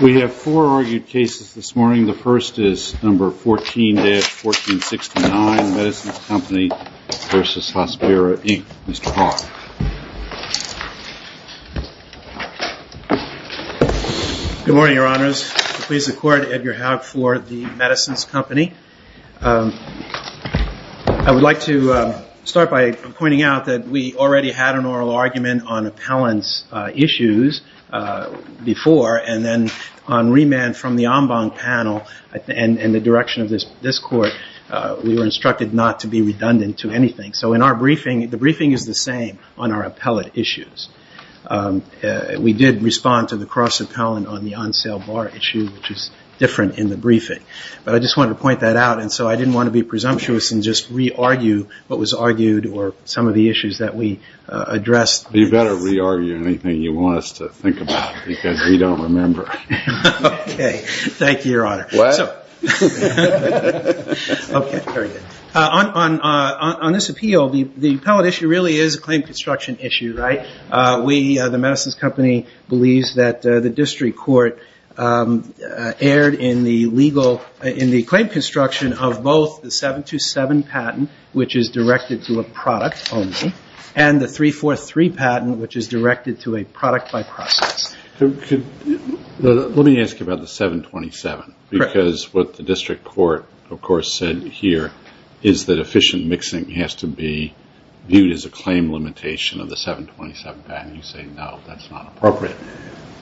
We have four argued cases this morning. The first is number 14-1469, Medicines Company v. Hospira, Inc. Mr. Hawke. Good morning, Your Honors. Please accord Edgar Hawke for the Medicines Company. I would like to start by pointing out that we already had an oral argument on appellant's issues before and then on remand from the Ombong panel and the direction of this court, we were instructed not to be redundant to anything. So in our briefing, the briefing is the same on our appellate issues. We did respond to the cross-appellant on the on-sale bar issue, which is different in the briefing. But I just wanted to point that out and so I didn't want to be presumptuous and just re-argue what was argued or some of the issues that we addressed. You better re-argue anything you want us to think about because we don't remember. Okay. Thank you, Your Honor. What? Okay. Very good. On this appeal, the appellate issue really is a claim construction issue, right? The Medicines Company believes that the district court erred in the legal, in the claim construction of both the 727 patent, which is directed to a product only, and the 343 patent, which is directed to a product by process. Let me ask you about the 727 because what the district court, of course, said here is that efficient mixing has to be viewed as a claim limitation of the 727 patent. You say, no, that's not appropriate.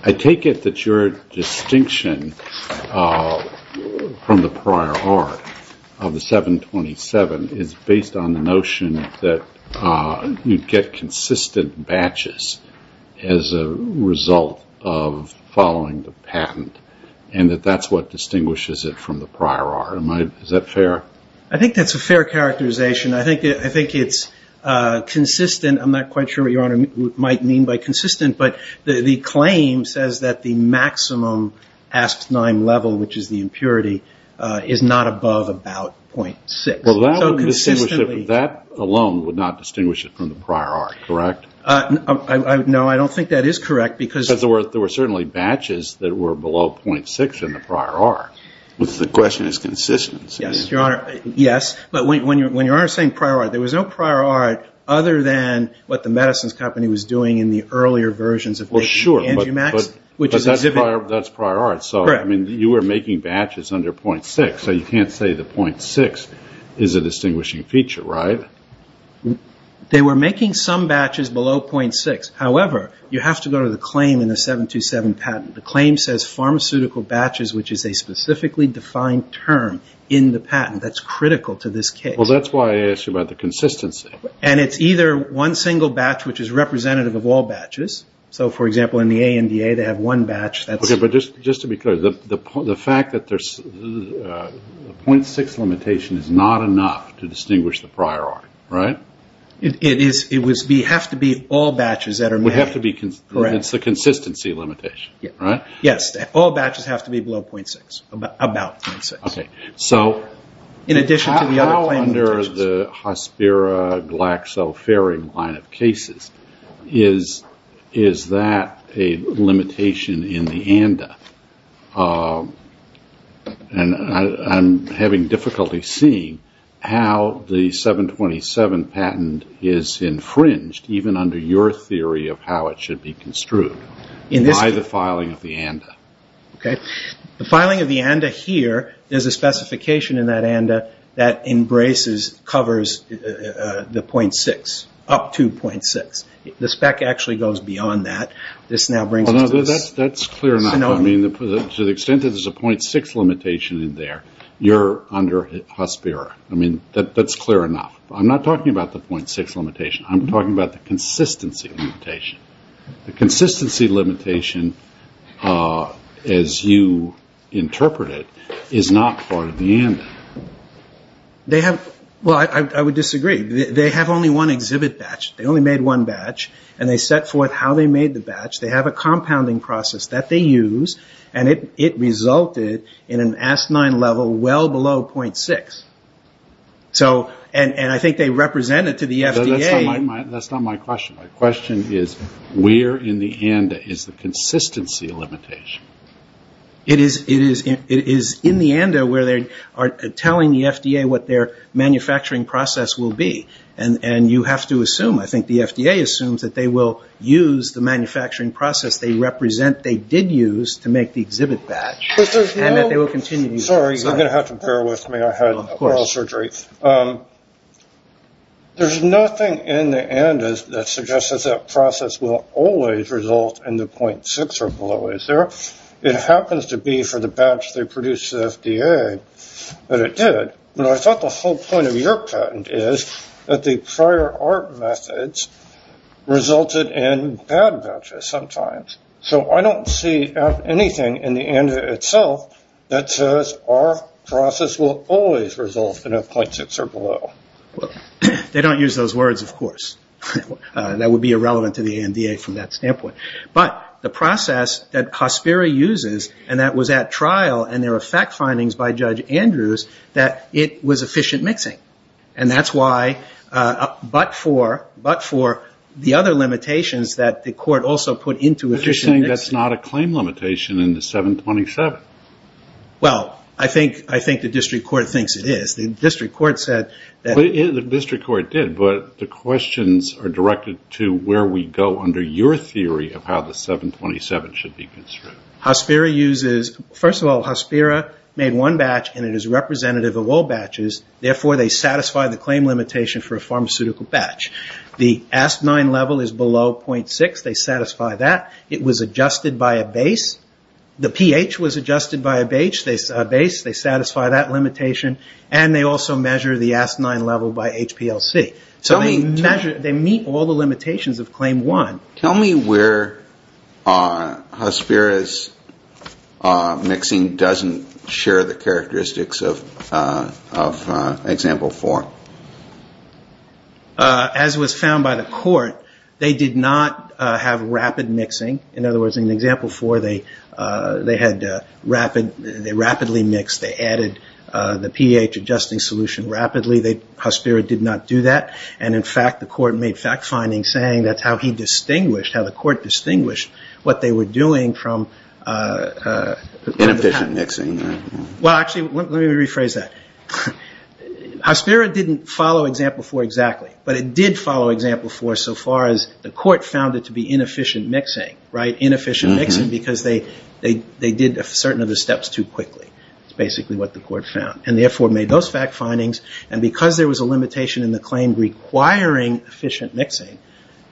I take it that your distinction from the prior art of the 727 is based on the notion that you get consistent batches as a result of following the patent and that that's what distinguishes it from the prior art. Is that fair? I think that's a fair characterization. I think it's consistent. I'm not quite sure what Your Honor might mean by consistent, but the claim says that the maximum Asp9 level, which is the impurity, is not above about 0.6. Well, that alone would not distinguish it from the prior art, correct? No, I don't think that is correct. Because there were certainly batches that were below 0.6 in the prior art. The question is consistency. Yes, Your Honor. Yes. But when Your Honor is saying prior art, there was no prior art other than what the medicines company was doing in the earlier versions of the angiomax. Well, sure. But that's prior art. Correct. So you were making batches under 0.6, so you can't say that 0.6 is a distinguishing feature, right? They were making some batches below 0.6. However, you have to go to the claim in the 727 patent. The claim says pharmaceutical batches, which is a specifically defined term in the patent. That's critical to this case. Well, that's why I asked you about the consistency. And it's either one single batch, which is representative of all batches. So, for example, in the ANDA, they have one batch. Okay, but just to be clear, the fact that the 0.6 limitation is not enough to distinguish the prior art, right? It would have to be all batches that are made. It would have to be. Correct. So that's the consistency limitation, right? Yes. All batches have to be below 0.6, about 0.6. Okay. So how under the Hospira-Glaxoferin line of cases is that a limitation in the ANDA? And I'm having difficulty seeing how the 727 patent is infringed, even under your theory of how it should be construed, by the filing of the ANDA. Okay. The filing of the ANDA here, there's a specification in that ANDA that embraces, covers the 0.6, up to 0.6. The spec actually goes beyond that. That's clear enough. To the extent that there's a 0.6 limitation in there, you're under Hospira. I mean, that's clear enough. I'm not talking about the 0.6 limitation. I'm talking about the consistency limitation. The consistency limitation, as you interpret it, is not part of the ANDA. Well, I would disagree. They have only one exhibit batch. They only made one batch, and they set forth how they made the batch. They have a compounding process that they use, and it resulted in an ASC-9 level well below 0.6. And I think they represent it to the FDA. That's not my question. My question is, where in the ANDA is the consistency limitation? It is in the ANDA where they are telling the FDA what their manufacturing process will be. And you have to assume, I think the FDA assumes, that they will use the manufacturing process they represent, they did use to make the exhibit batch, and that they will continue to use it. Sorry, you're going to have to bear with me. I had oral surgery. There's nothing in the ANDA that suggests that that process will always result in the 0.6 or below. It happens to be for the batch they produced to the FDA that it did. I thought the whole point of your patent is that the prior art methods resulted in bad batches sometimes. So I don't see anything in the ANDA itself that says our process will always result in a 0.6 or below. They don't use those words, of course. That would be irrelevant to the ANDA from that standpoint. But the process that COSPERA uses and that was at trial and there were fact findings by Judge Andrews that it was efficient mixing. And that's why, but for the other limitations that the court also put into efficient mixing. But you're saying that's not a claim limitation in the 727. Well, I think the district court thinks it is. The district court said that. The district court did, but the questions are directed to where we go under your theory of how the 727 should be construed. COSPERA uses, first of all, COSPERA made one batch and it is representative of all batches. Therefore, they satisfy the claim limitation for a pharmaceutical batch. The Asp9 level is below 0.6. They satisfy that. It was adjusted by a base. The pH was adjusted by a base. They satisfy that limitation. And they also measure the Asp9 level by HPLC. So they measure, they meet all the limitations of Claim 1. Tell me where COSPERA's mixing doesn't share the characteristics of Example 4. As was found by the court, they did not have rapid mixing. In other words, in Example 4, they rapidly mixed. They added the pH adjusting solution rapidly. COSPERA did not do that. And, in fact, the court made fact findings saying that's how he distinguished, how the court distinguished what they were doing from Inefficient mixing. Well, actually, let me rephrase that. COSPERA didn't follow Example 4 exactly. But it did follow Example 4 so far as the court found it to be inefficient mixing, right? Inefficient mixing because they did certain of the steps too quickly. That's basically what the court found. And therefore made those fact findings. And because there was a limitation in the claim requiring efficient mixing,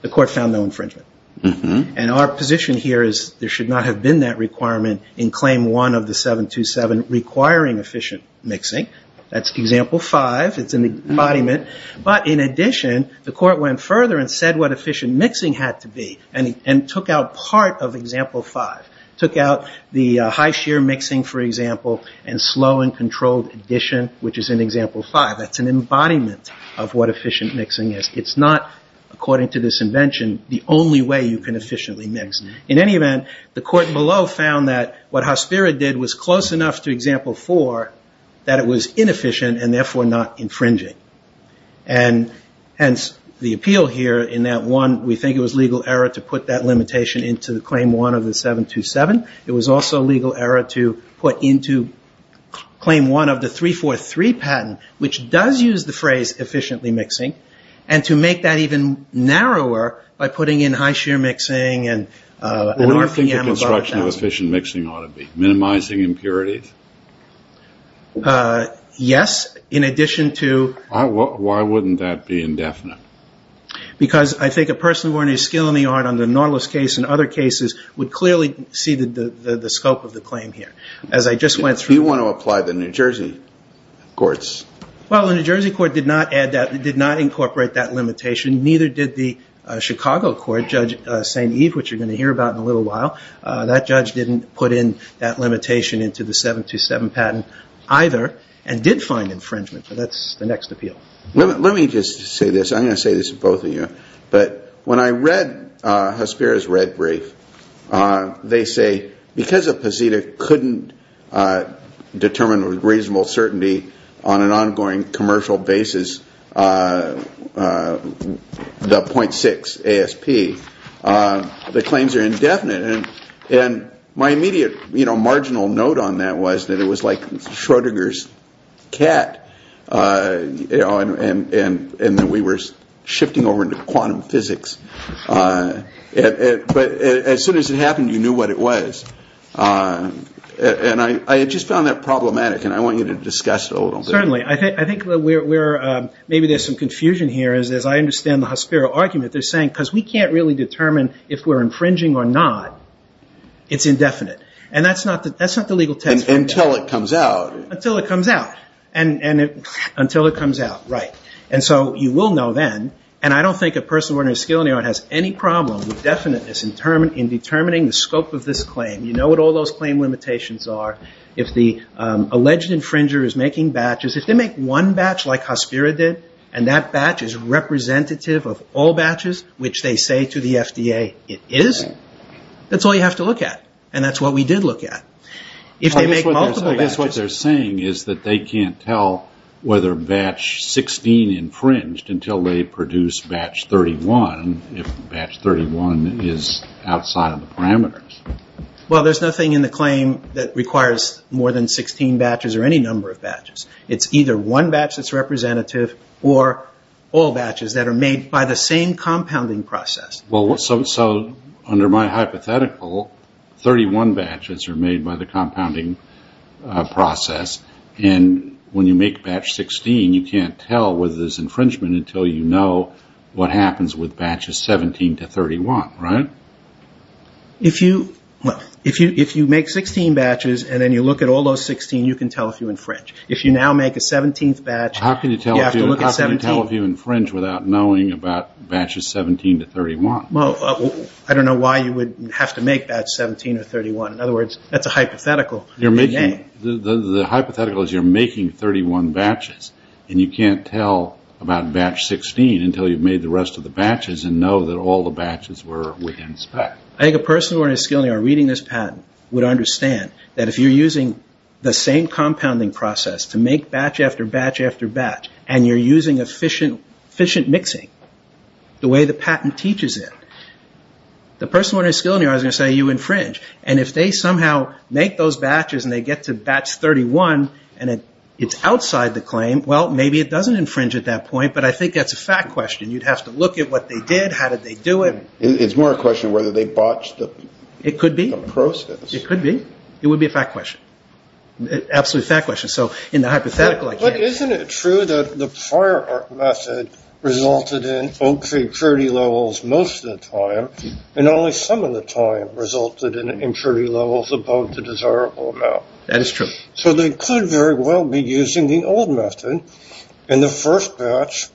the court found no infringement. And our position here is there should not have been that requirement in Claim 1 of the 727 requiring efficient mixing. That's Example 5. It's an embodiment. But, in addition, the court went further and said what efficient mixing had to be and took out part of Example 5. Took out the high shear mixing, for example, and slow and controlled addition, which is in Example 5. That's an embodiment of what efficient mixing is. It's not, according to this invention, the only way you can efficiently mix. In any event, the court below found that what COSPERA did was close enough to Example 4 that it was inefficient and, therefore, not infringing. And, hence, the appeal here in that one, we think it was legal error to put that limitation into the Claim 1 of the 727. It was also legal error to put into Claim 1 of the 343 patent, which does use the phrase efficiently mixing, and to make that even narrower by putting in high shear mixing and an RPM above 1,000. What do you think the construction of efficient mixing ought to be? Minimizing impurities? Yes, in addition to... Why wouldn't that be indefinite? Because I think a person who earned his skill in the art on the Nautilus case and other cases would clearly see the scope of the claim here. As I just went through... Do you want to apply the New Jersey courts? Well, the New Jersey court did not incorporate that limitation. Neither did the Chicago court, Judge St. Eve, which you're going to hear about in a little while. That judge didn't put in that limitation into the 727 patent either and did find infringement. But that's the next appeal. Let me just say this. I'm going to say this to both of you. But when I read Hesperia's red brief, they say because a Pazita couldn't determine with reasonable certainty on an ongoing commercial basis the 0.6 ASP, the claims are indefinite. My immediate marginal note on that was that it was like Schrodinger's cat and that we were shifting over into quantum physics. But as soon as it happened, you knew what it was. And I just found that problematic, and I want you to discuss it a little bit. Certainly. I think maybe there's some confusion here. As I understand the Hesperia argument, they're saying because we can't really determine if we're infringing or not, it's indefinite. And that's not the legal test. Until it comes out. Until it comes out. Until it comes out, right. And so you will know then, and I don't think a person with a skill in the art has any problem with definiteness in determining the scope of this claim. You know what all those claim limitations are. If the alleged infringer is making batches, if they make one batch like Hesperia did, and that batch is representative of all batches, which they say to the FDA it is, that's all you have to look at. And that's what we did look at. I guess what they're saying is that they can't tell whether batch 16 infringed until they produce batch 31, if batch 31 is outside of the parameters. Well, there's nothing in the claim that requires more than 16 batches or any number of batches. It's either one batch that's representative or all batches that are made by the same compounding process. So under my hypothetical, 31 batches are made by the compounding process. And when you make batch 16, you can't tell whether there's infringement until you know what happens with batches 17 to 31, right? If you make 16 batches and then you look at all those 16, you can tell if you infringed. If you now make a 17th batch, you have to look at 17. How can you tell if you infringed without knowing about batches 17 to 31? Well, I don't know why you would have to make batch 17 or 31. In other words, that's a hypothetical. The hypothetical is you're making 31 batches. And you can't tell about batch 16 until you've made the rest of the batches and know that all the batches were within spec. I think a person with a skill in their reading this patent would understand that if you're using the same compounding process to make batch after batch after batch, and you're using efficient mixing the way the patent teaches it, the person with a skill in their eyes is going to say you infringed. And if they somehow make those batches and they get to batch 31 and it's outside the claim, well, maybe it doesn't infringe at that point. But I think that's a fact question. You'd have to look at what they did, how did they do it. It's more a question of whether they botched the process. It could be. It could be. It would be a fact question. Absolutely a fact question. So in the hypothetical, I can't tell. But isn't it true that the prior method resulted in okay purity levels most of the time, and only some of the time resulted in impurity levels above the desirable amount? That is true. So they could very well be using the old method, and the first batch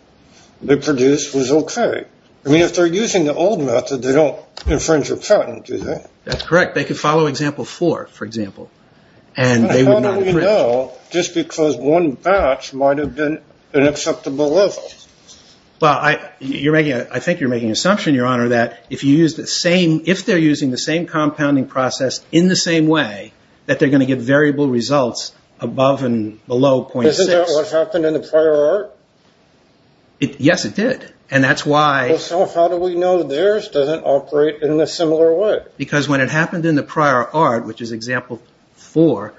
they produced was okay. I mean, if they're using the old method, they don't infringe a patent, do they? That's correct. They could follow example four, for example. How do we know just because one batch might have been an acceptable level? Well, I think you're making an assumption, Your Honor, that if they're using the same compounding process in the same way, that they're going to get variable results above and below 0.6. Isn't that what happened in the prior art? Yes, it did. And that's why. So how do we know theirs doesn't operate in a similar way? Because when it happened in the prior art, which is example four,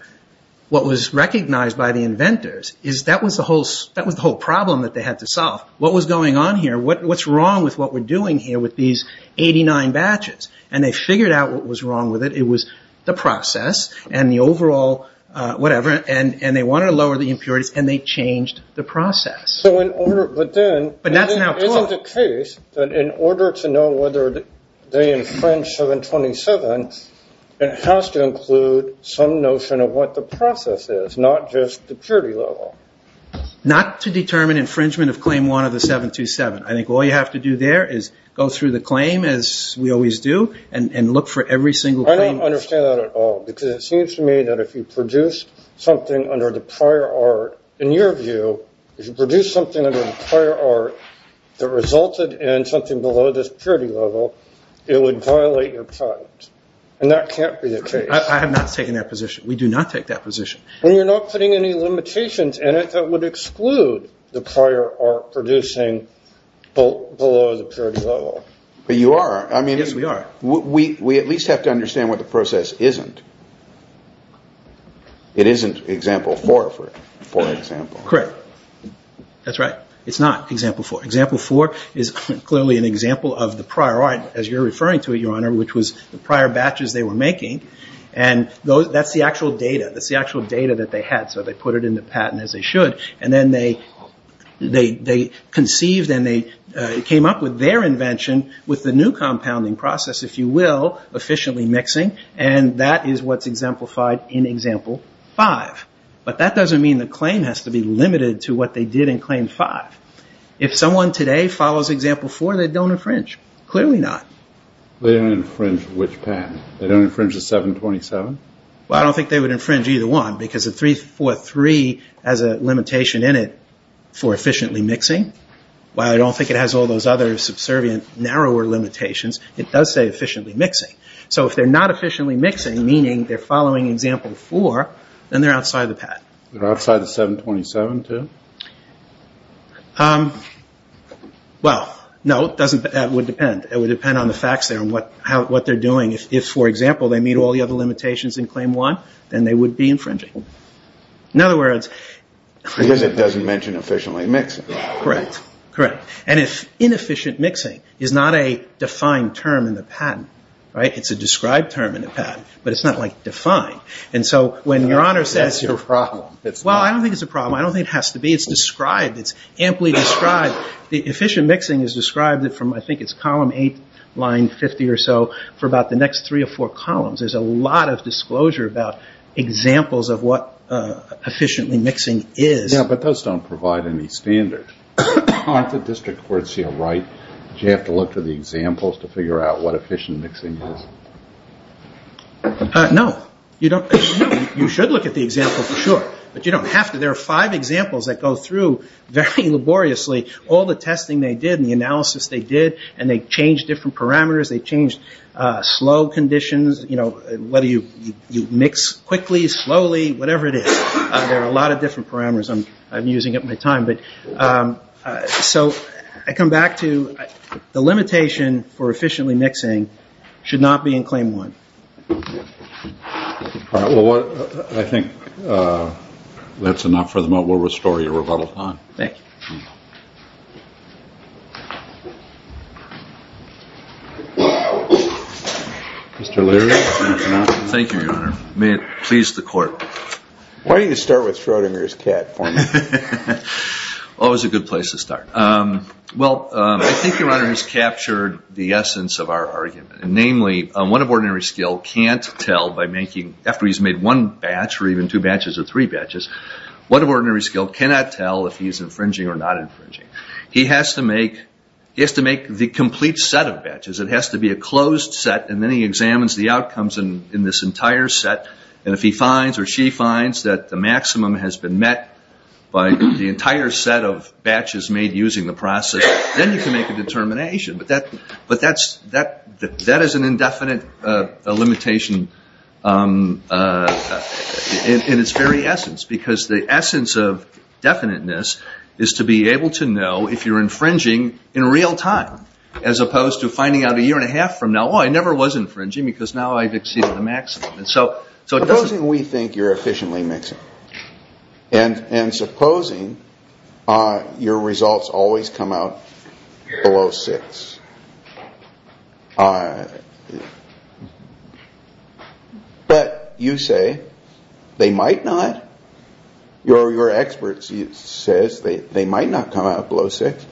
what was recognized by the inventors is that was the whole problem that they had to solve. What was going on here? What's wrong with what we're doing here with these 89 batches? And they figured out what was wrong with it. It was the process and the overall whatever, and they wanted to lower the impurities, and they changed the process. But isn't the case that in order to know whether they infringe 727, it has to include some notion of what the process is, not just the purity level? Not to determine infringement of claim one of the 727. I think all you have to do there is go through the claim, as we always do, and look for every single claim. I don't understand that at all, because it seems to me that if you produce something under the prior art, in your view, if you produce something under the prior art that resulted in something below this purity level, it would violate your patent, and that can't be the case. I have not taken that position. We do not take that position. Well, you're not putting any limitations in it that would exclude the prior art producing below the purity level. But you are. Yes, we are. We at least have to understand what the process isn't. It isn't Example 4, for example. Correct. That's right. It's not Example 4. Example 4 is clearly an example of the prior art, as you're referring to it, Your Honor, which was the prior batches they were making, and that's the actual data. That's the actual data that they had, so they put it in the patent as they should, and then they conceived and they came up with their invention with the new compounding process, if you will, efficiently mixing, and that is what's exemplified in Example 5. But that doesn't mean the claim has to be limited to what they did in Claim 5. If someone today follows Example 4, they don't infringe, clearly not. They don't infringe which patent? They don't infringe the 727? Well, I don't think they would infringe either one because the 343 has a limitation in it for efficiently mixing. While I don't think it has all those other subservient, narrower limitations, it does say efficiently mixing. So if they're not efficiently mixing, meaning they're following Example 4, then they're outside the patent. They're outside the 727, too? Well, no, that would depend. It would depend on the facts there and what they're doing. If, for example, they meet all the other limitations in Claim 1, then they would be infringing. In other words... Because it doesn't mention efficiently mixing. Correct. And inefficient mixing is not a defined term in the patent. It's a described term in the patent, but it's not defined. And so when Your Honor says... That's your problem. Well, I don't think it's a problem. I don't think it has to be. It's described. It's amply described. Efficient mixing is described from, I think it's column 8, line 50 or so, for about the next three or four columns. There's a lot of disclosure about examples of what efficiently mixing is. Yeah, but those don't provide any standard. Aren't the district courts here right? Do you have to look to the examples to figure out what efficient mixing is? No. You should look at the example for sure, but you don't have to. There are five examples that go through very laboriously all the testing they did and the analysis they did, and they changed different parameters. They changed slow conditions, whether you mix quickly, slowly, whatever it is. There are a lot of different parameters I'm using up my time. So I come back to the limitation for efficiently mixing should not be in claim one. All right. Well, I think that's enough for the moment. We'll restore your rebuttal time. Thank you. Mr. Leary. Thank you, Your Honor. May it please the Court. Why don't you start with Schrodinger's cat for me? Oh, it's a good place to start. Well, I think Your Honor has captured the essence of our argument. Namely, one of ordinary skill can't tell by making, after he's made one batch or even two batches or three batches, one of ordinary skill cannot tell if he's infringing or not infringing. He has to make the complete set of batches. It has to be a closed set, and then he examines the outcomes in this entire set, and if he finds or she finds that the maximum has been met by the entire set of batches made using the process, then you can make a determination. But that is an indefinite limitation in its very essence, because the essence of definiteness is to be able to know if you're infringing in real time, as opposed to finding out a year and a half from now, oh, I never was infringing because now I've exceeded the maximum. Supposing we think you're efficiently mixing, and supposing your results always come out below six, but you say they might not. Your expert says they might not come out below six.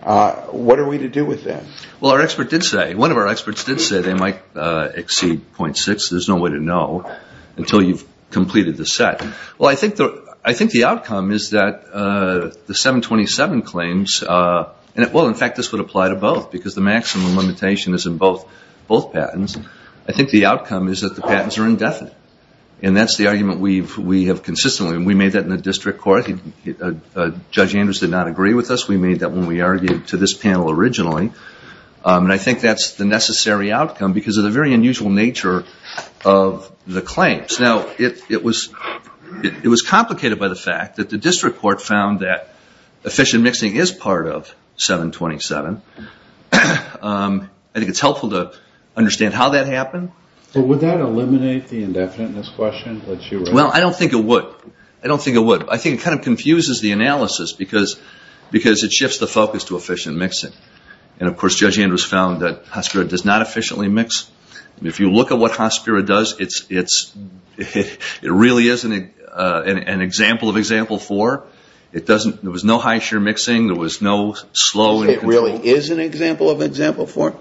What are we to do with that? Well, our expert did say, one of our experts did say they might exceed 0.6. There's no way to know until you've completed the set. Well, I think the outcome is that the 727 claims, well, in fact, this would apply to both, because the maximum limitation is in both patents. I think the outcome is that the patents are indefinite, and that's the argument we have consistently, and we made that in the district court. Judge Andrews did not agree with us. We made that when we argued to this panel originally, and I think that's the necessary outcome because of the very unusual nature of the claims. Now, it was complicated by the fact that the district court found that efficient mixing is part of 727. I think it's helpful to understand how that happened. But would that eliminate the indefiniteness question that you raised? Well, I don't think it would. I think it kind of confuses the analysis because it shifts the focus to efficient mixing. And, of course, Judge Andrews found that Hospiro does not efficiently mix. If you look at what Hospiro does, it really is an example of Example 4. There was no high-sheer mixing. There was no slow. It really is an example of Example 4?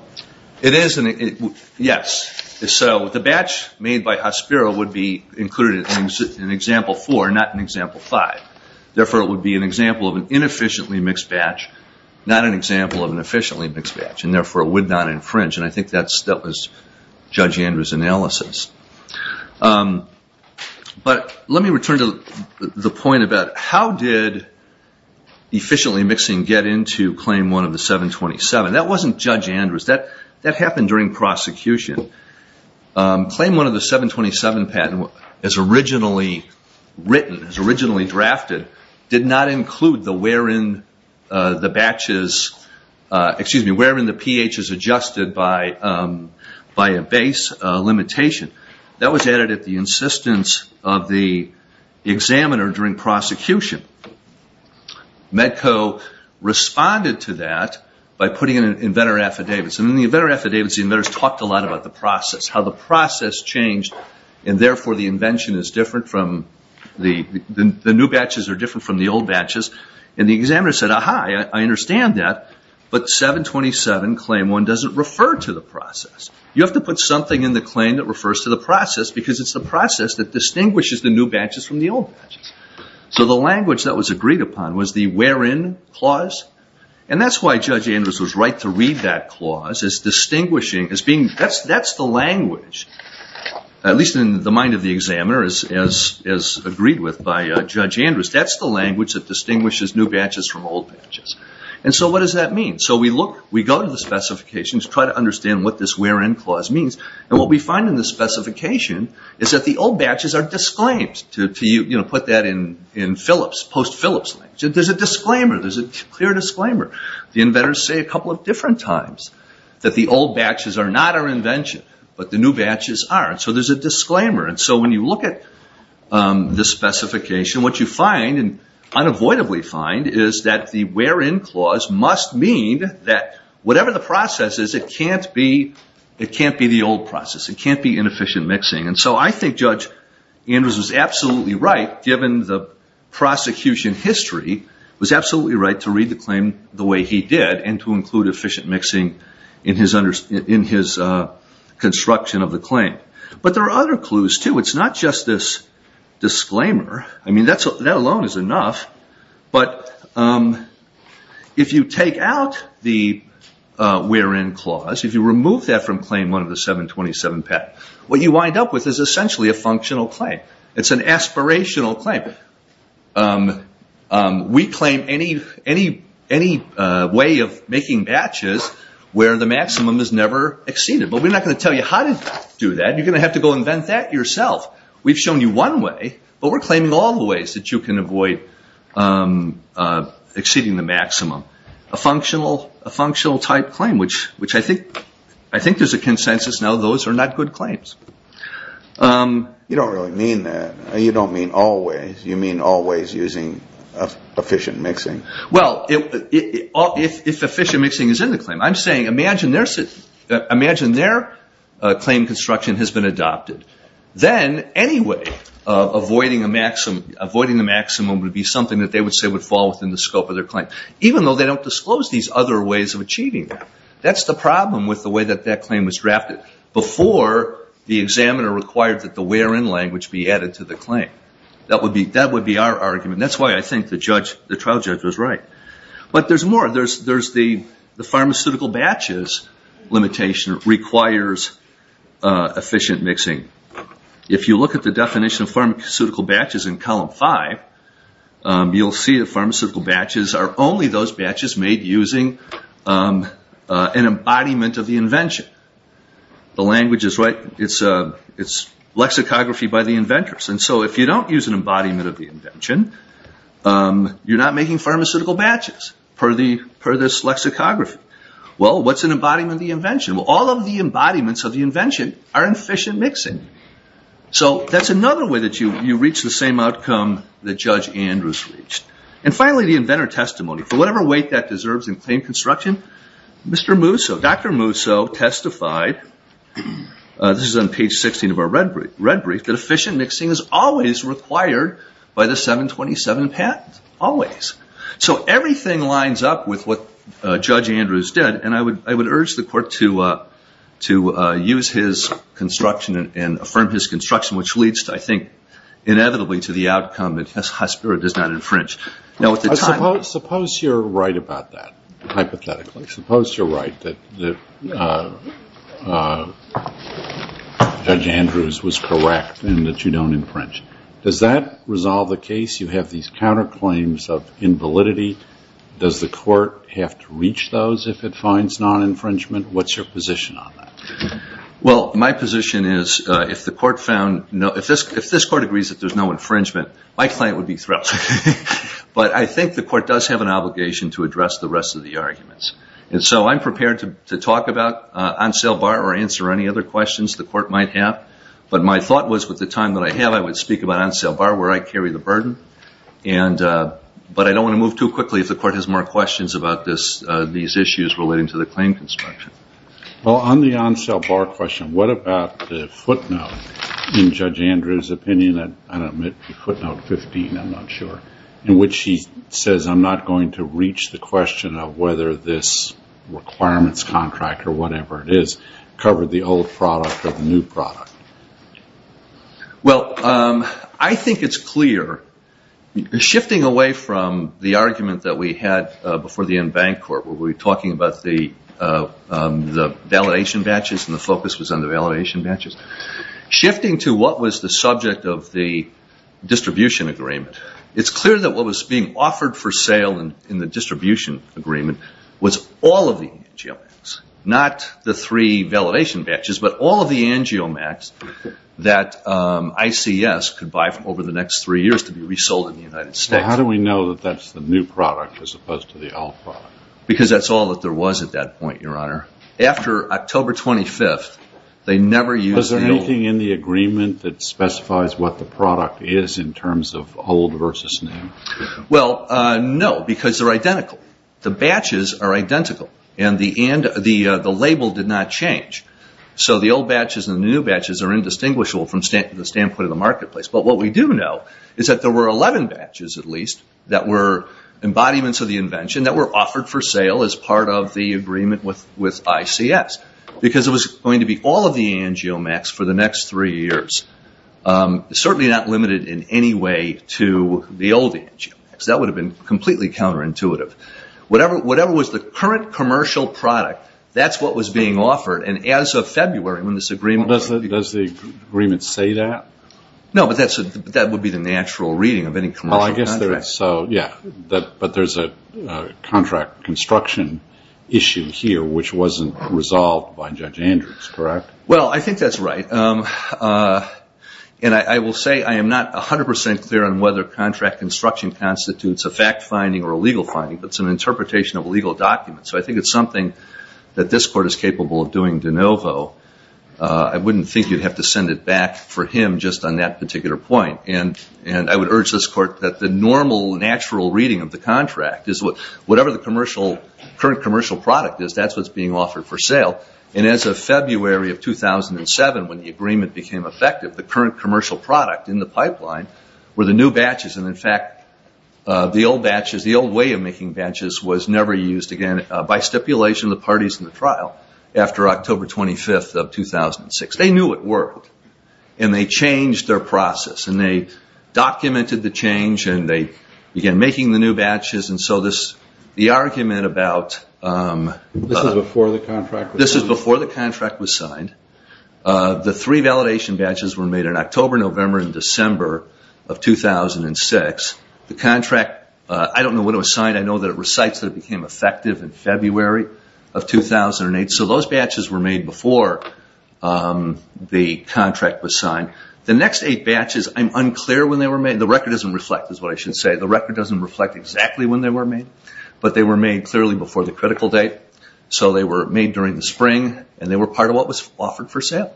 It is, yes. So the batch made by Hospiro would be included in Example 4, not in Example 5. Therefore, it would be an example of an inefficiently mixed batch, not an example of an efficiently mixed batch, and, therefore, it would not infringe. And I think that was Judge Andrews' analysis. But let me return to the point about how did efficiently mixing get into Claim 1 of the 727. That wasn't Judge Andrews. That happened during prosecution. Claim 1 of the 727 patent, as originally written, as originally drafted, did not include the wherein the pH is adjusted by a base limitation. That was added at the insistence of the examiner during prosecution. Medco responded to that by putting in inventor affidavits. In the inventor affidavits, the inventors talked a lot about the process, how the process changed, and, therefore, the invention is different from the new batches or different from the old batches. And the examiner said, ah-ha, I understand that. But 727, Claim 1, doesn't refer to the process. You have to put something in the claim that refers to the process because it's the process that distinguishes the new batches from the old batches. So the language that was agreed upon was the wherein clause. And that's why Judge Andrews was right to read that clause as distinguishing, as being, that's the language, at least in the mind of the examiner, as agreed with by Judge Andrews. That's the language that distinguishes new batches from old batches. And so what does that mean? So we look, we go to the specifications, try to understand what this wherein clause means. And what we find in the specification is that the old batches are disclaimed. To put that in Phillips, post-Phillips language. There's a disclaimer. There's a clear disclaimer. The inventors say a couple of different times that the old batches are not our invention, but the new batches are. So there's a disclaimer. And so when you look at the specification, what you find, and unavoidably find, is that the wherein clause must mean that whatever the process is, it can't be the old process. It can't be inefficient mixing. And so I think Judge Andrews was absolutely right, given the prosecution history, was absolutely right to read the claim the way he did and to include efficient mixing in his construction of the claim. But there are other clues, too. It's not just this disclaimer. I mean, that alone is enough. But if you take out the wherein clause, if you remove that from Claim 1 of the 727-PET, what you wind up with is essentially a functional claim. It's an aspirational claim. We claim any way of making batches where the maximum is never exceeded. But we're not going to tell you how to do that. You're going to have to go invent that yourself. We've shown you one way, but we're claiming all the ways that you can avoid exceeding the maximum. A functional-type claim, which I think there's a consensus now those are not good claims. You don't really mean that. You don't mean all ways. You mean all ways using efficient mixing. Well, if efficient mixing is in the claim, I'm saying imagine their claim construction has been adopted. Then, anyway, avoiding the maximum would be something that they would say would fall within the scope of their claim, even though they don't disclose these other ways of achieving that. That's the problem with the way that that claim was drafted. Before, the examiner required that the wherein language be added to the claim. That would be our argument. That's why I think the trial judge was right. But there's more. The pharmaceutical batches limitation requires efficient mixing. If you look at the definition of pharmaceutical batches in column five, you'll see that pharmaceutical batches are only those batches made using an embodiment of the invention. The language is right. It's lexicography by the inventors. If you don't use an embodiment of the invention, you're not making pharmaceutical batches per this lexicography. Well, what's an embodiment of the invention? All of the embodiments of the invention are in efficient mixing. That's another way that you reach the same outcome that Judge Andrews reached. Finally, the inventor testimony. For whatever weight that deserves in claim construction, Mr. Musso, Dr. Musso testified. This is on page 16 of our red brief. The efficient mixing is always required by the 727 patent. Always. So everything lines up with what Judge Andrews did. And I would urge the court to use his construction and affirm his construction, which leads, I think, inevitably to the outcome that his high spirit does not infringe. Suppose you're right about that, hypothetically. Suppose you're right that Judge Andrews was correct and that you don't infringe. Does that resolve the case? You have these counterclaims of invalidity. Does the court have to reach those if it finds non-infringement? What's your position on that? Well, my position is if this court agrees that there's no infringement, my client would be thrilled. But I think the court does have an obligation to address the rest of the arguments. And so I'm prepared to talk about on sale bar or answer any other questions the court might have. But my thought was with the time that I have, I would speak about on sale bar where I carry the burden. But I don't want to move too quickly if the court has more questions about these issues relating to the claim construction. Well, on the on sale bar question, what about the footnote in Judge Andrews' opinion? I don't admit to footnote 15. I'm not sure. In which he says, I'm not going to reach the question of whether this requirements contract or whatever it is covered the old product or the new product. Well, I think it's clear. Shifting away from the argument that we had before the end bank court where we were talking about the validation batches and the focus was on the validation batches, shifting to what was the subject of the distribution agreement, it's clear that what was being offered for sale in the distribution agreement was all of the angiomax, not the three validation batches, but all of the angiomax that ICS could buy over the next three years to be resold in the United States. How do we know that that's the new product as opposed to the old product? Because that's all that there was at that point, Your Honor. After October 25th, they never used the old. Was there anything in the agreement that specifies what the product is in terms of old versus new? Well, no, because they're identical. The batches are identical and the label did not change. So the old batches and the new batches are indistinguishable from the standpoint of the marketplace. But what we do know is that there were 11 batches at least that were embodiments of the invention that were offered for sale as part of the agreement with ICS. Because it was going to be all of the angiomax for the next three years, certainly not limited in any way to the old angiomax. That would have been completely counterintuitive. Whatever was the current commercial product, that's what was being offered. And as of February when this agreement was made. Does the agreement say that? No, but that would be the natural reading of any commercial contract. Well, I guess so, yeah. But there's a contract construction issue here which wasn't resolved by Judge Andrews, correct? Well, I think that's right. And I will say I am not 100% clear on whether contract construction constitutes a fact finding or a legal finding, but it's an interpretation of a legal document. So I think it's something that this Court is capable of doing de novo. I wouldn't think you'd have to send it back for him just on that particular point. And I would urge this Court that the normal, natural reading of the contract is whatever the commercial, current commercial product is, that's what's being offered for sale. And as of February of 2007, when the agreement became effective, the current commercial product in the pipeline were the new batches. And, in fact, the old batches, the old way of making batches was never used again by stipulation of the parties in the trial after October 25th of 2006. They knew it worked, and they changed their process. And they documented the change, and they began making the new batches. And so the argument about... This is before the contract was signed. This is before the contract was signed. The three validation batches were made in October, November, and December of 2006. The contract, I don't know when it was signed. I know that it recites that it became effective in February of 2008. So those batches were made before the contract was signed. The next eight batches, I'm unclear when they were made. The record doesn't reflect, is what I should say. The record doesn't reflect exactly when they were made. But they were made clearly before the critical date. So they were made during the spring, and they were part of what was offered for sale.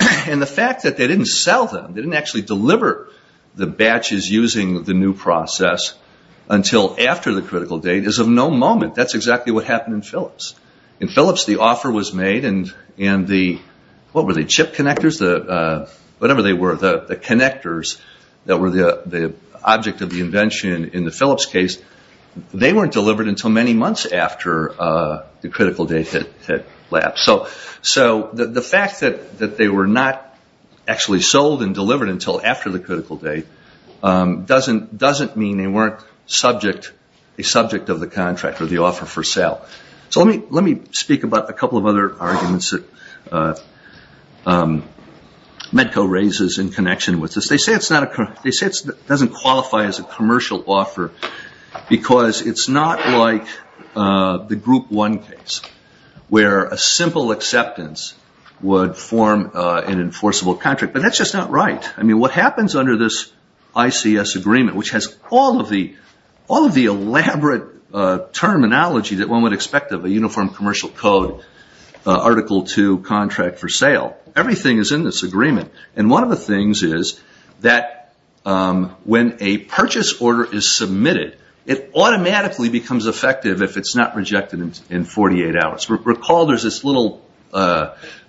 And the fact that they didn't sell them, they didn't actually deliver the batches using the new process until after the critical date is of no moment. That's exactly what happened in Phillips. In Phillips, the offer was made, and the chip connectors, whatever they were, the connectors that were the object of the invention in the Phillips case, they weren't delivered until many months after the critical date had lapsed. So the fact that they were not actually sold and delivered until after the critical date doesn't mean they weren't a subject of the contract or the offer for sale. Let me speak about a couple of other arguments that Medco raises in connection with this. They say it doesn't qualify as a commercial offer because it's not like the Group 1 case, where a simple acceptance would form an enforceable contract. But that's just not right. What happens under this ICS agreement, which has all of the elaborate terminology that one would expect of a uniform commercial code, Article 2 contract for sale, everything is in this agreement. And one of the things is that when a purchase order is submitted, it automatically becomes effective if it's not rejected in 48 hours. Recall there's this little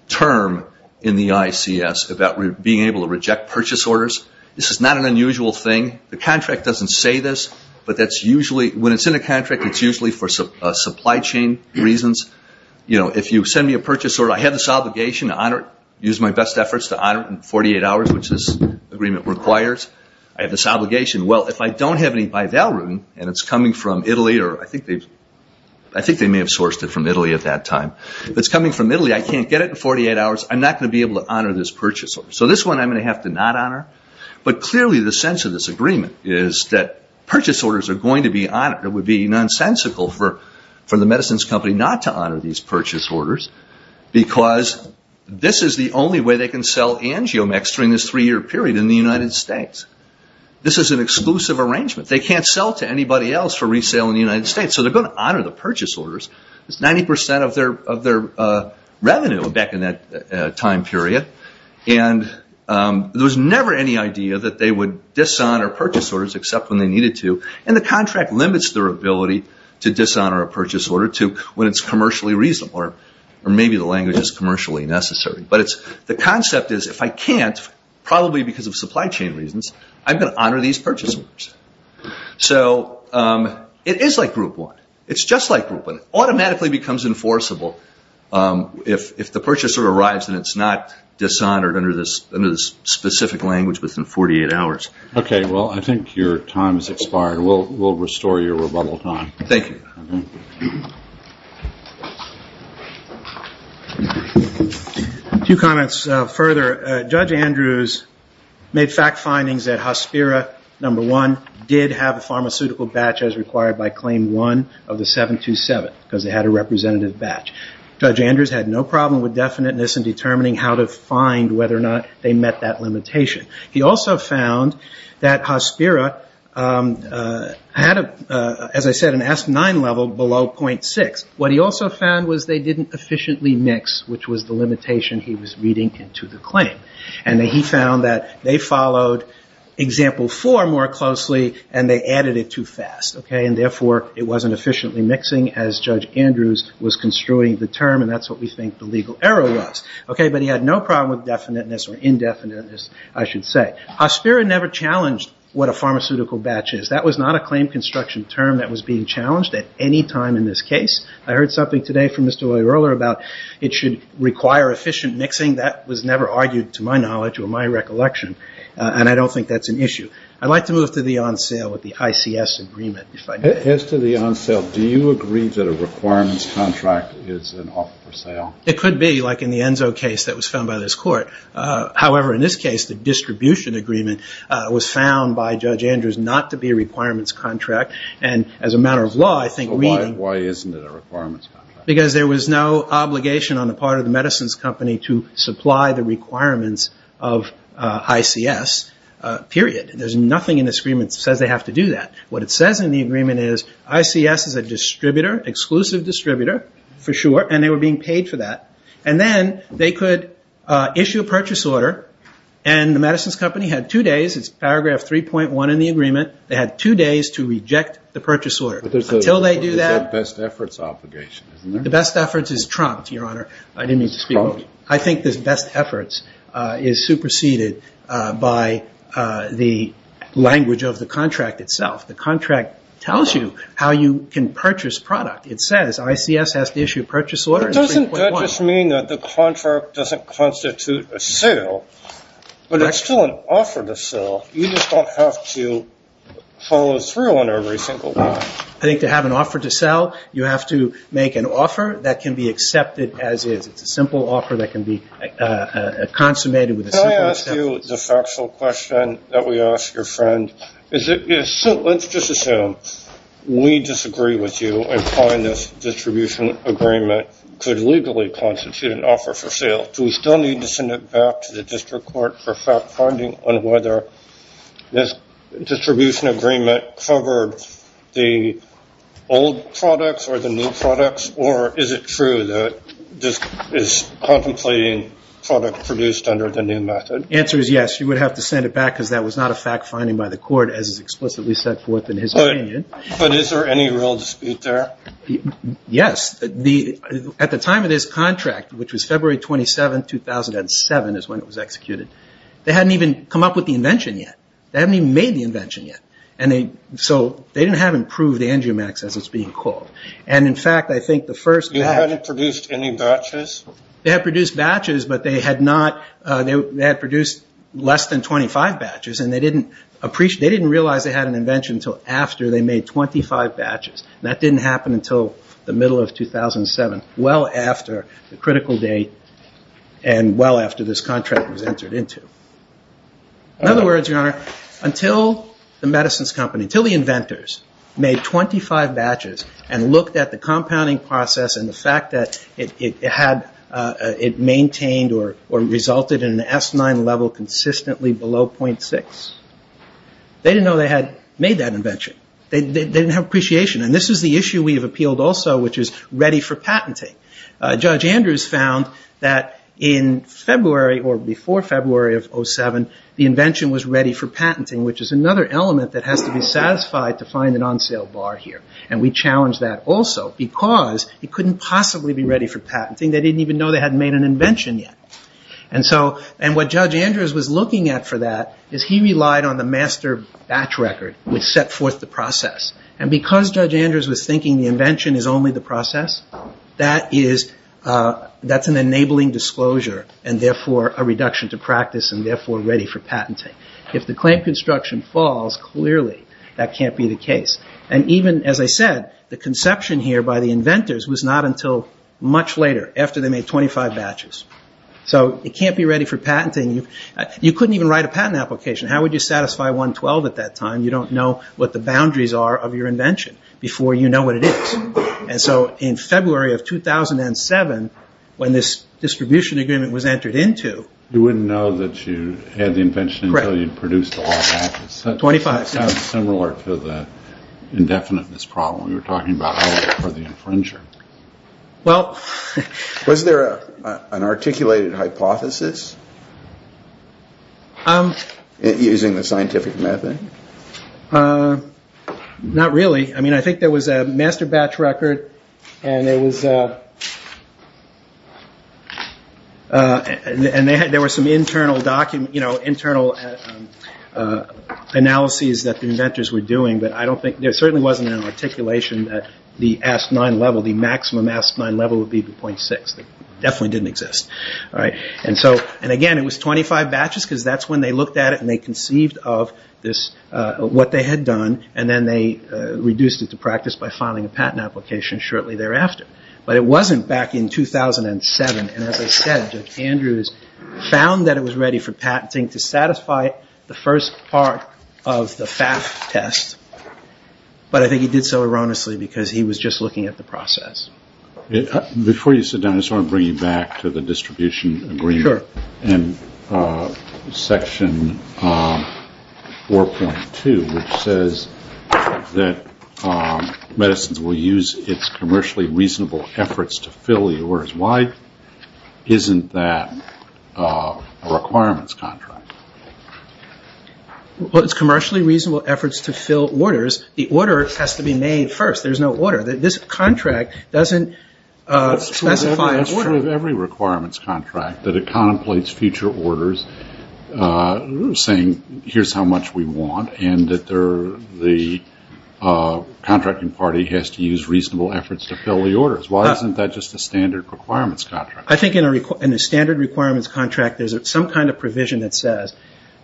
term in the ICS about being able to reject purchase orders. This is not an unusual thing. The contract doesn't say this, but when it's in a contract, it's usually for supply chain reasons. If you send me a purchase order, I have this obligation to honor it, use my best efforts to honor it in 48 hours, which this agreement requires. I have this obligation. Well, if I don't have any by Valrhoon, and it's coming from Italy, or I think they may have sourced it from Italy at that time. If it's coming from Italy, I can't get it in 48 hours. I'm not going to be able to honor this purchase order. So this one I'm going to have to not honor. But clearly the sense of this agreement is that purchase orders are going to be honored. It would be nonsensical for the medicines company not to honor these purchase orders, because this is the only way they can sell angiomects during this three-year period in the United States. This is an exclusive arrangement. They can't sell to anybody else for resale in the United States, so they're going to honor the purchase orders. It's 90% of their revenue back in that time period. There was never any idea that they would dishonor purchase orders except when they needed to, and the contract limits their ability to dishonor a purchase order when it's commercially reasonable, or maybe the language is commercially necessary. But the concept is if I can't, probably because of supply chain reasons, I'm going to honor these purchase orders. So it is like Group 1. It's just like Group 1. It automatically becomes enforceable if the purchase order arrives and it's not dishonored under this specific language within 48 hours. Okay. Well, I think your time has expired. We'll restore your rebuttal time. Thank you. A few comments further. Judge Andrews made fact findings that Hospira, number one, did have a pharmaceutical batch as required by Claim 1 of the 727, because they had a representative batch. Judge Andrews had no problem with definiteness in determining how to find whether or not they met that limitation. He also found that Hospira had, as I said, an S9 level below .6. What he also found was they didn't efficiently mix, which was the limitation he was reading into the claim. And he found that they followed Example 4 more closely and they added it too fast. And, therefore, it wasn't efficiently mixing, as Judge Andrews was construing the term, and that's what we think the legal error was. But he had no problem with definiteness or indefiniteness, I should say. Hospira never challenged what a pharmaceutical batch is. That was not a claim construction term that was being challenged at any time in this case. I heard something today from Mr. Oyerler about it should require efficient mixing. That was never argued, to my knowledge or my recollection, and I don't think that's an issue. I'd like to move to the on-sale with the ICS agreement. As to the on-sale, do you agree that a requirements contract is an offer for sale? It could be, like in the Enzo case that was found by this court. However, in this case, the distribution agreement was found by Judge Andrews not to be a requirements contract. And, as a matter of law, I think reading... Why isn't it a requirements contract? Because there was no obligation on the part of the medicines company to supply the requirements of ICS, period. There's nothing in this agreement that says they have to do that. What it says in the agreement is ICS is a distributor, exclusive distributor, for sure, and they were being paid for that. And then they could issue a purchase order, and the medicines company had two days. It's paragraph 3.1 in the agreement. They had two days to reject the purchase order. Until they do that... But there's a best efforts obligation, isn't there? The best efforts is trumped, Your Honor. I didn't mean to speak... It's trumped. I think this best efforts is superseded by the language of the contract itself. The contract tells you how you can purchase product. It says ICS has to issue a purchase order in 3.1. But doesn't that just mean that the contract doesn't constitute a sale? But it's still an offer to sell. You just don't have to follow through on every single one. I think to have an offer to sell, you have to make an offer that can be accepted as is. It's a simple offer that can be consummated with a simple acceptance. Can I ask you the factual question that we asked your friend? Let's just assume we disagree with you and find this distribution agreement could legally constitute an offer for sale. Do we still need to send it back to the district court for fact-finding on whether this distribution agreement covered the old products or the new products? Or is it true that this is contemplating product produced under the new method? The answer is yes. You would have to send it back because that was not a fact-finding by the court, as is explicitly set forth in his opinion. But is there any real dispute there? Yes. At the time of this contract, which was February 27, 2007 is when it was executed, they hadn't even come up with the invention yet. They hadn't even made the invention yet. So they didn't have improved angiomatics, as it's being called. And, in fact, I think the first batch... You hadn't produced any batches? They had produced batches, but they had produced less than 25 batches, and they didn't realize they had an invention until after they made 25 batches. And that didn't happen until the middle of 2007, well after the critical date and well after this contract was entered into. In other words, Your Honor, until the medicines company, until the inventors made 25 batches and looked at the compounding process and the fact that it maintained or resulted in an S9 level consistently below 0.6, they didn't know they had made that invention. They didn't have appreciation. And this is the issue we have appealed also, which is ready for patenting. Judge Andrews found that in February or before February of 2007, the invention was ready for patenting, which is another element that has to be satisfied to find an on-sale bar here. And we challenged that also because it couldn't possibly be ready for patenting. They didn't even know they hadn't made an invention yet. And what Judge Andrews was looking at for that is he relied on the master batch record which set forth the process. And because Judge Andrews was thinking the invention is only the process, that's an enabling disclosure and therefore a reduction to practice and therefore ready for patenting. If the claim construction falls, clearly that can't be the case. And even, as I said, the conception here by the inventors was not until much later, after they made 25 batches. So it can't be ready for patenting. You couldn't even write a patent application. How would you satisfy 112 at that time? You don't know what the boundaries are of your invention before you know what it is. And so in February of 2007, when this distribution agreement was entered into... You wouldn't know that you had the invention until you produced the last batch. 25. It sounds similar to the indefiniteness problem we were talking about earlier for the infringer. Well... Was there an articulated hypothesis using the scientific method? Not really. I mean, I think there was a master batch record and there was some internal analyses that the inventors were doing, but I don't think... The maximum level would be 0.6. It definitely didn't exist. And again, it was 25 batches, because that's when they looked at it and they conceived of what they had done, and then they reduced it to practice by filing a patent application shortly thereafter. But it wasn't back in 2007. And as I said, Judge Andrews found that it was ready for patenting to satisfy the first part of the FAF test, but I think he did so erroneously because he was just looking at the process. Before you sit down, I just want to bring you back to the distribution agreement. Sure. And Section 4.2, which says that medicines will use its commercially reasonable efforts to fill the orders. Why isn't that a requirements contract? Well, it's commercially reasonable efforts to fill orders. The order has to be made first. There's no order. This contract doesn't specify... It's true of every requirements contract, that it contemplates future orders, saying here's how much we want, and that the contracting party has to use reasonable efforts to fill the orders. Why isn't that just a standard requirements contract? I think in a standard requirements contract, there's some kind of provision that says,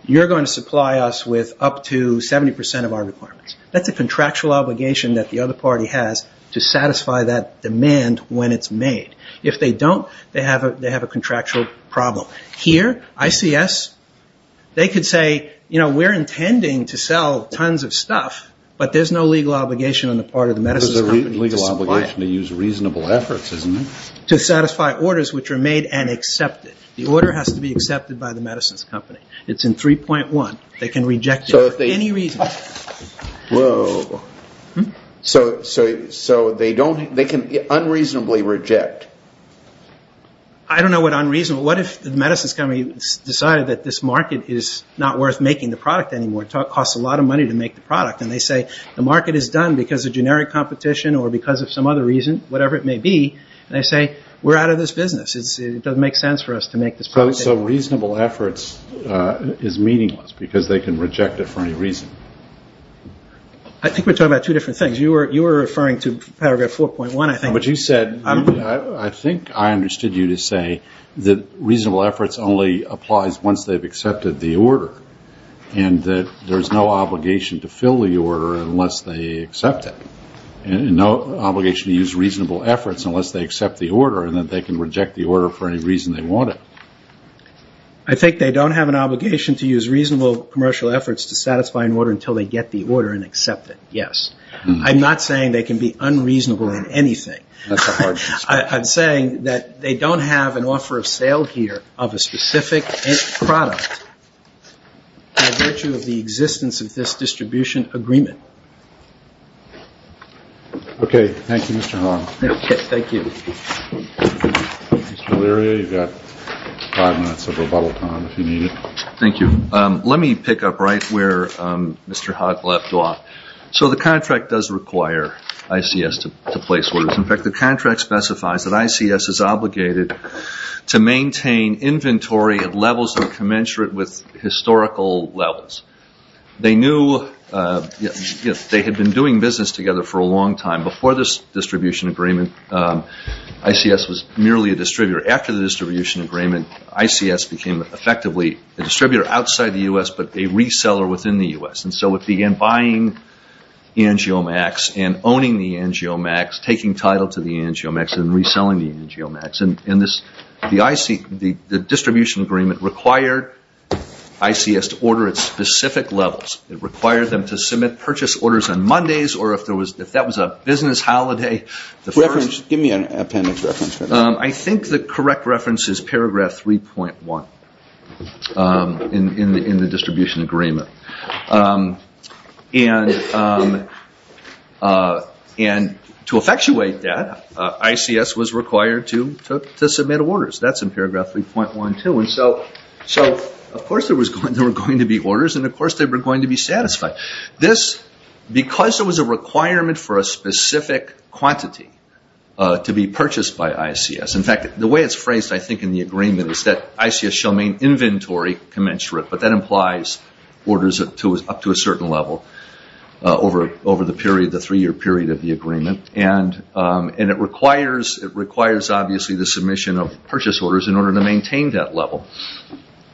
you're going to supply us with up to 70% of our requirements. That's a contractual obligation that the other party has to satisfy that demand when it's made. If they don't, they have a contractual problem. Here, ICS, they could say, you know, we're intending to sell tons of stuff, but there's no legal obligation on the part of the medicines company to supply it. There's a legal obligation to use reasonable efforts, isn't there? To satisfy orders which are made and accepted. The order has to be accepted by the medicines company. It's in 3.1. They can reject it for any reason. Whoa. So they can unreasonably reject. I don't know what unreasonable... What if the medicines company decided that this market is not worth making the product anymore, it costs a lot of money to make the product, and they say the market is done because of generic competition or because of some other reason, whatever it may be, and they say, we're out of this business. It doesn't make sense for us to make this product anymore. So reasonable efforts is meaningless because they can reject it for any reason. I think we're talking about two different things. You were referring to paragraph 4.1, I think. But you said... I think I understood you to say that reasonable efforts only applies once they've accepted the order and that there's no obligation to fill the order unless they accept it and no obligation to use reasonable efforts unless they accept the order and then they can reject the order for any reason they want it. I think they don't have an obligation to use reasonable commercial efforts to satisfy an order until they get the order and accept it, yes. I'm not saying they can be unreasonable in anything. I'm saying that they don't have an offer of sale here of a specific product by virtue of the existence of this distribution agreement. Okay. Thank you, Mr. Hogg. Thank you. Mr. O'Leary, you've got five minutes of rebuttal time if you need it. Thank you. Let me pick up right where Mr. Hogg left off. So the contract does require ICS to place orders. In fact, the contract specifies that ICS is obligated to maintain inventory at levels that are commensurate with historical levels. They knew they had been doing business together for a long time. Before this distribution agreement, ICS was merely a distributor. After the distribution agreement, ICS became effectively a distributor outside the U.S. but a reseller within the U.S. So it began buying Angiomaxx and owning the Angiomaxx, taking title to the Angiomaxx and reselling the Angiomaxx. The distribution agreement required ICS to order at specific levels. It required them to submit purchase orders on Mondays or if that was a business holiday. Give me an appendix reference for that. I think the correct reference is paragraph 3.1 in the distribution agreement. And to effectuate that, ICS was required to submit orders. That's in paragraph 3.12. So of course there were going to be orders and of course they were going to be satisfied. Because there was a requirement for a specific quantity to be purchased by ICS, in fact the way it's phrased I think in the agreement is that ICS shall main inventory commensurate, but that implies orders up to a certain level over the three-year period of the agreement. And it requires obviously the submission of purchase orders in order to maintain that level.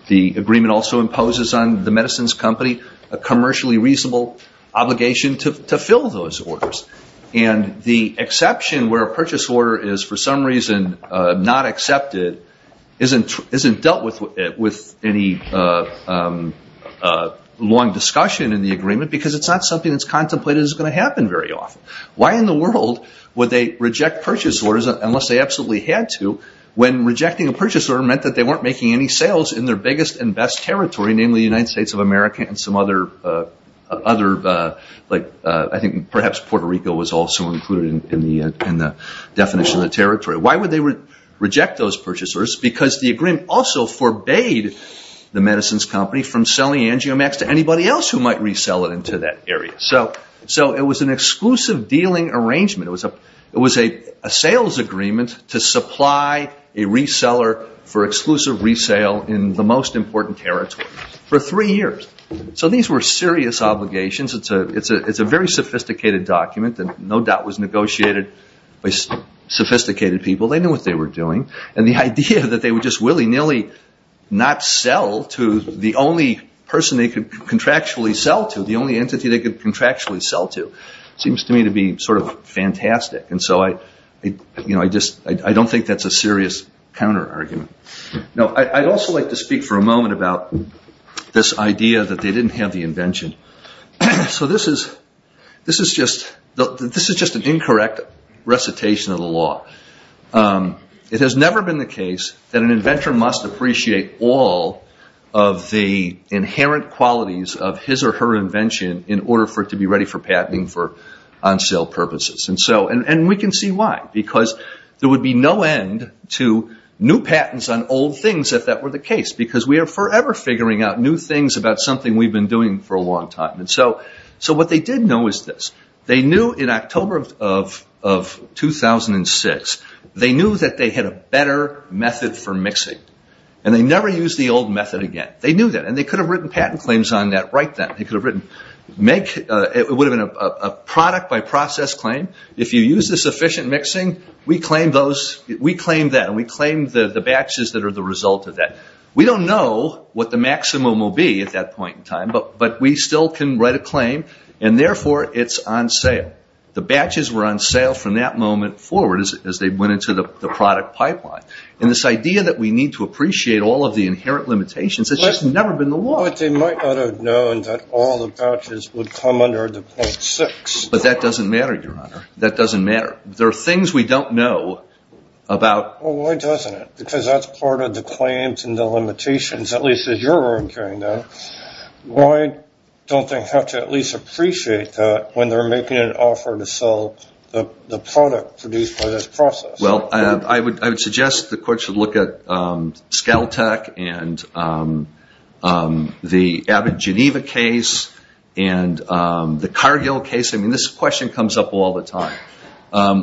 The agreement also imposes on the medicines company a commercially reasonable obligation to fill those orders. And the exception where a purchase order is for some reason not accepted isn't dealt with any long discussion in the agreement because it's not something that's contemplated as going to happen very often. Why in the world would they reject purchase orders unless they absolutely had to when rejecting a purchase order meant that they weren't making any sales in their biggest and best territory, namely the United States of America and some other, I think perhaps Puerto Rico was also included in the definition of territory. Why would they reject those purchase orders? Because the agreement also forbade the medicines company from selling Angiomax to anybody else who might resell it into that area. So it was an exclusive dealing arrangement. It was a sales agreement to supply a reseller for exclusive resale in the most important territory for three years. So these were serious obligations. It's a very sophisticated document that no doubt was negotiated by sophisticated people. They knew what they were doing. And the idea that they would just willy-nilly not sell to the only person they could contractually sell to, the only entity they could contractually sell to, seems to me to be sort of fantastic. And so I don't think that's a serious counter-argument. Now, I'd also like to speak for a moment about this idea that they didn't have the invention. So this is just an incorrect recitation of the law. It has never been the case that an inventor must appreciate all of the inherent qualities of his or her invention in order for it to be ready for patenting on sale purposes. And we can see why. Because there would be no end to new patents on old things if that were the case. Because we are forever figuring out new things about something we've been doing for a long time. So what they did know is this. They knew in October of 2006, they knew that they had a better method for mixing. And they never used the old method again. They knew that. And they could have written patent claims on that right then. It would have been a product by process claim. If you use the sufficient mixing, we claim that. And we claim the batches that are the result of that. We don't know what the maximum will be at that point in time. But we still can write a claim. And, therefore, it's on sale. The batches were on sale from that moment forward as they went into the product pipeline. And this idea that we need to appreciate all of the inherent limitations has just never been the law. But they might not have known that all the batches would come under the 0.6. But that doesn't matter, Your Honor. That doesn't matter. There are things we don't know about. Well, why doesn't it? Because that's part of the claims and the limitations, at least as you're incurring them. Why don't they have to at least appreciate that when they're making an offer to sell the product produced by this process? Well, I would suggest the court should look at ScalTech and the Abbot Geneva case and the Cargill case. I mean, this question comes up all the time.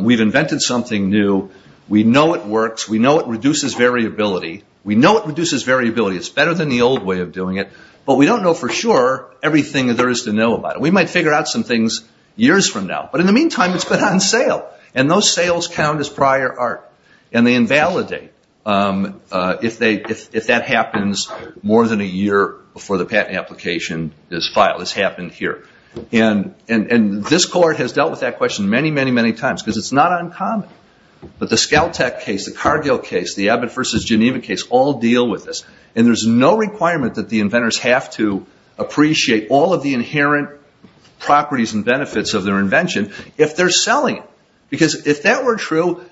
We've invented something new. We know it works. We know it reduces variability. We know it reduces variability. It's better than the old way of doing it. But we don't know for sure everything there is to know about it. We might figure out some things years from now. But in the meantime, it's been on sale. And those sales count as prior art. And they invalidate if that happens more than a year before the patent application is filed. It's happened here. And this court has dealt with that question many, many, many times because it's not uncommon. But the ScalTech case, the Cargill case, the Abbot versus Geneva case all deal with this. And there's no requirement that the inventors have to appreciate all of the inherent properties and benefits of their invention if they're selling it. Because if that were true,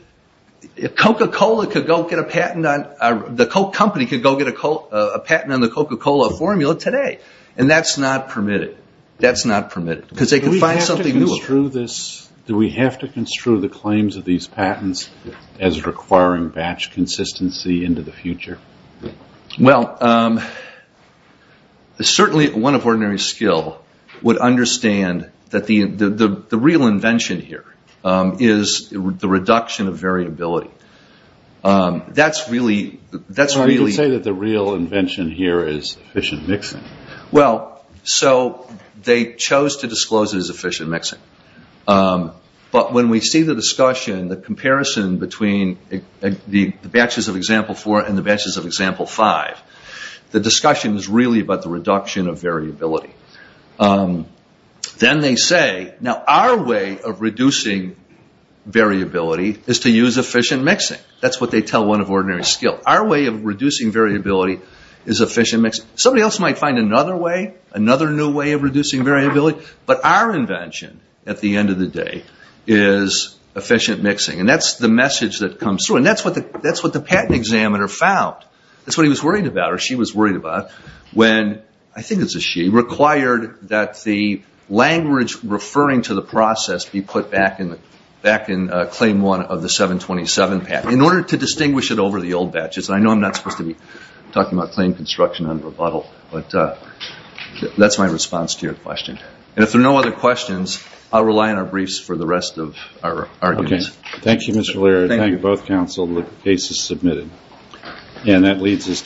Coca-Cola could go get a patent on the Coca-Cola formula today. And that's not permitted. That's not permitted. Do we have to construe the claims of these patents as requiring batch consistency into the future? Well, certainly one of ordinary skill would understand that the real invention here is the reduction of variability. I would say that the real invention here is efficient mixing. Well, so they chose to disclose it as efficient mixing. But when we see the discussion, the comparison between the batches of example four and the batches of example five, the discussion is really about the reduction of variability. Then they say, now our way of reducing variability is to use efficient mixing. That's what they tell one of ordinary skill. Our way of reducing variability is efficient mixing. Somebody else might find another way, another new way of reducing variability. But our invention at the end of the day is efficient mixing. And that's the message that comes through. And that's what the patent examiner found. That's what he was worried about or she was worried about when, I think it's a she, required that the language referring to the process be put back in claim one of the 727 patent in order to distinguish it over the old batches. I know I'm not supposed to be talking about claim construction under a bottle, but that's my response to your question. And if there are no other questions, I'll rely on our briefs for the rest of our argument. Thank you, Mr. Laird. Thank you both counsel. The case is submitted. And that leads us to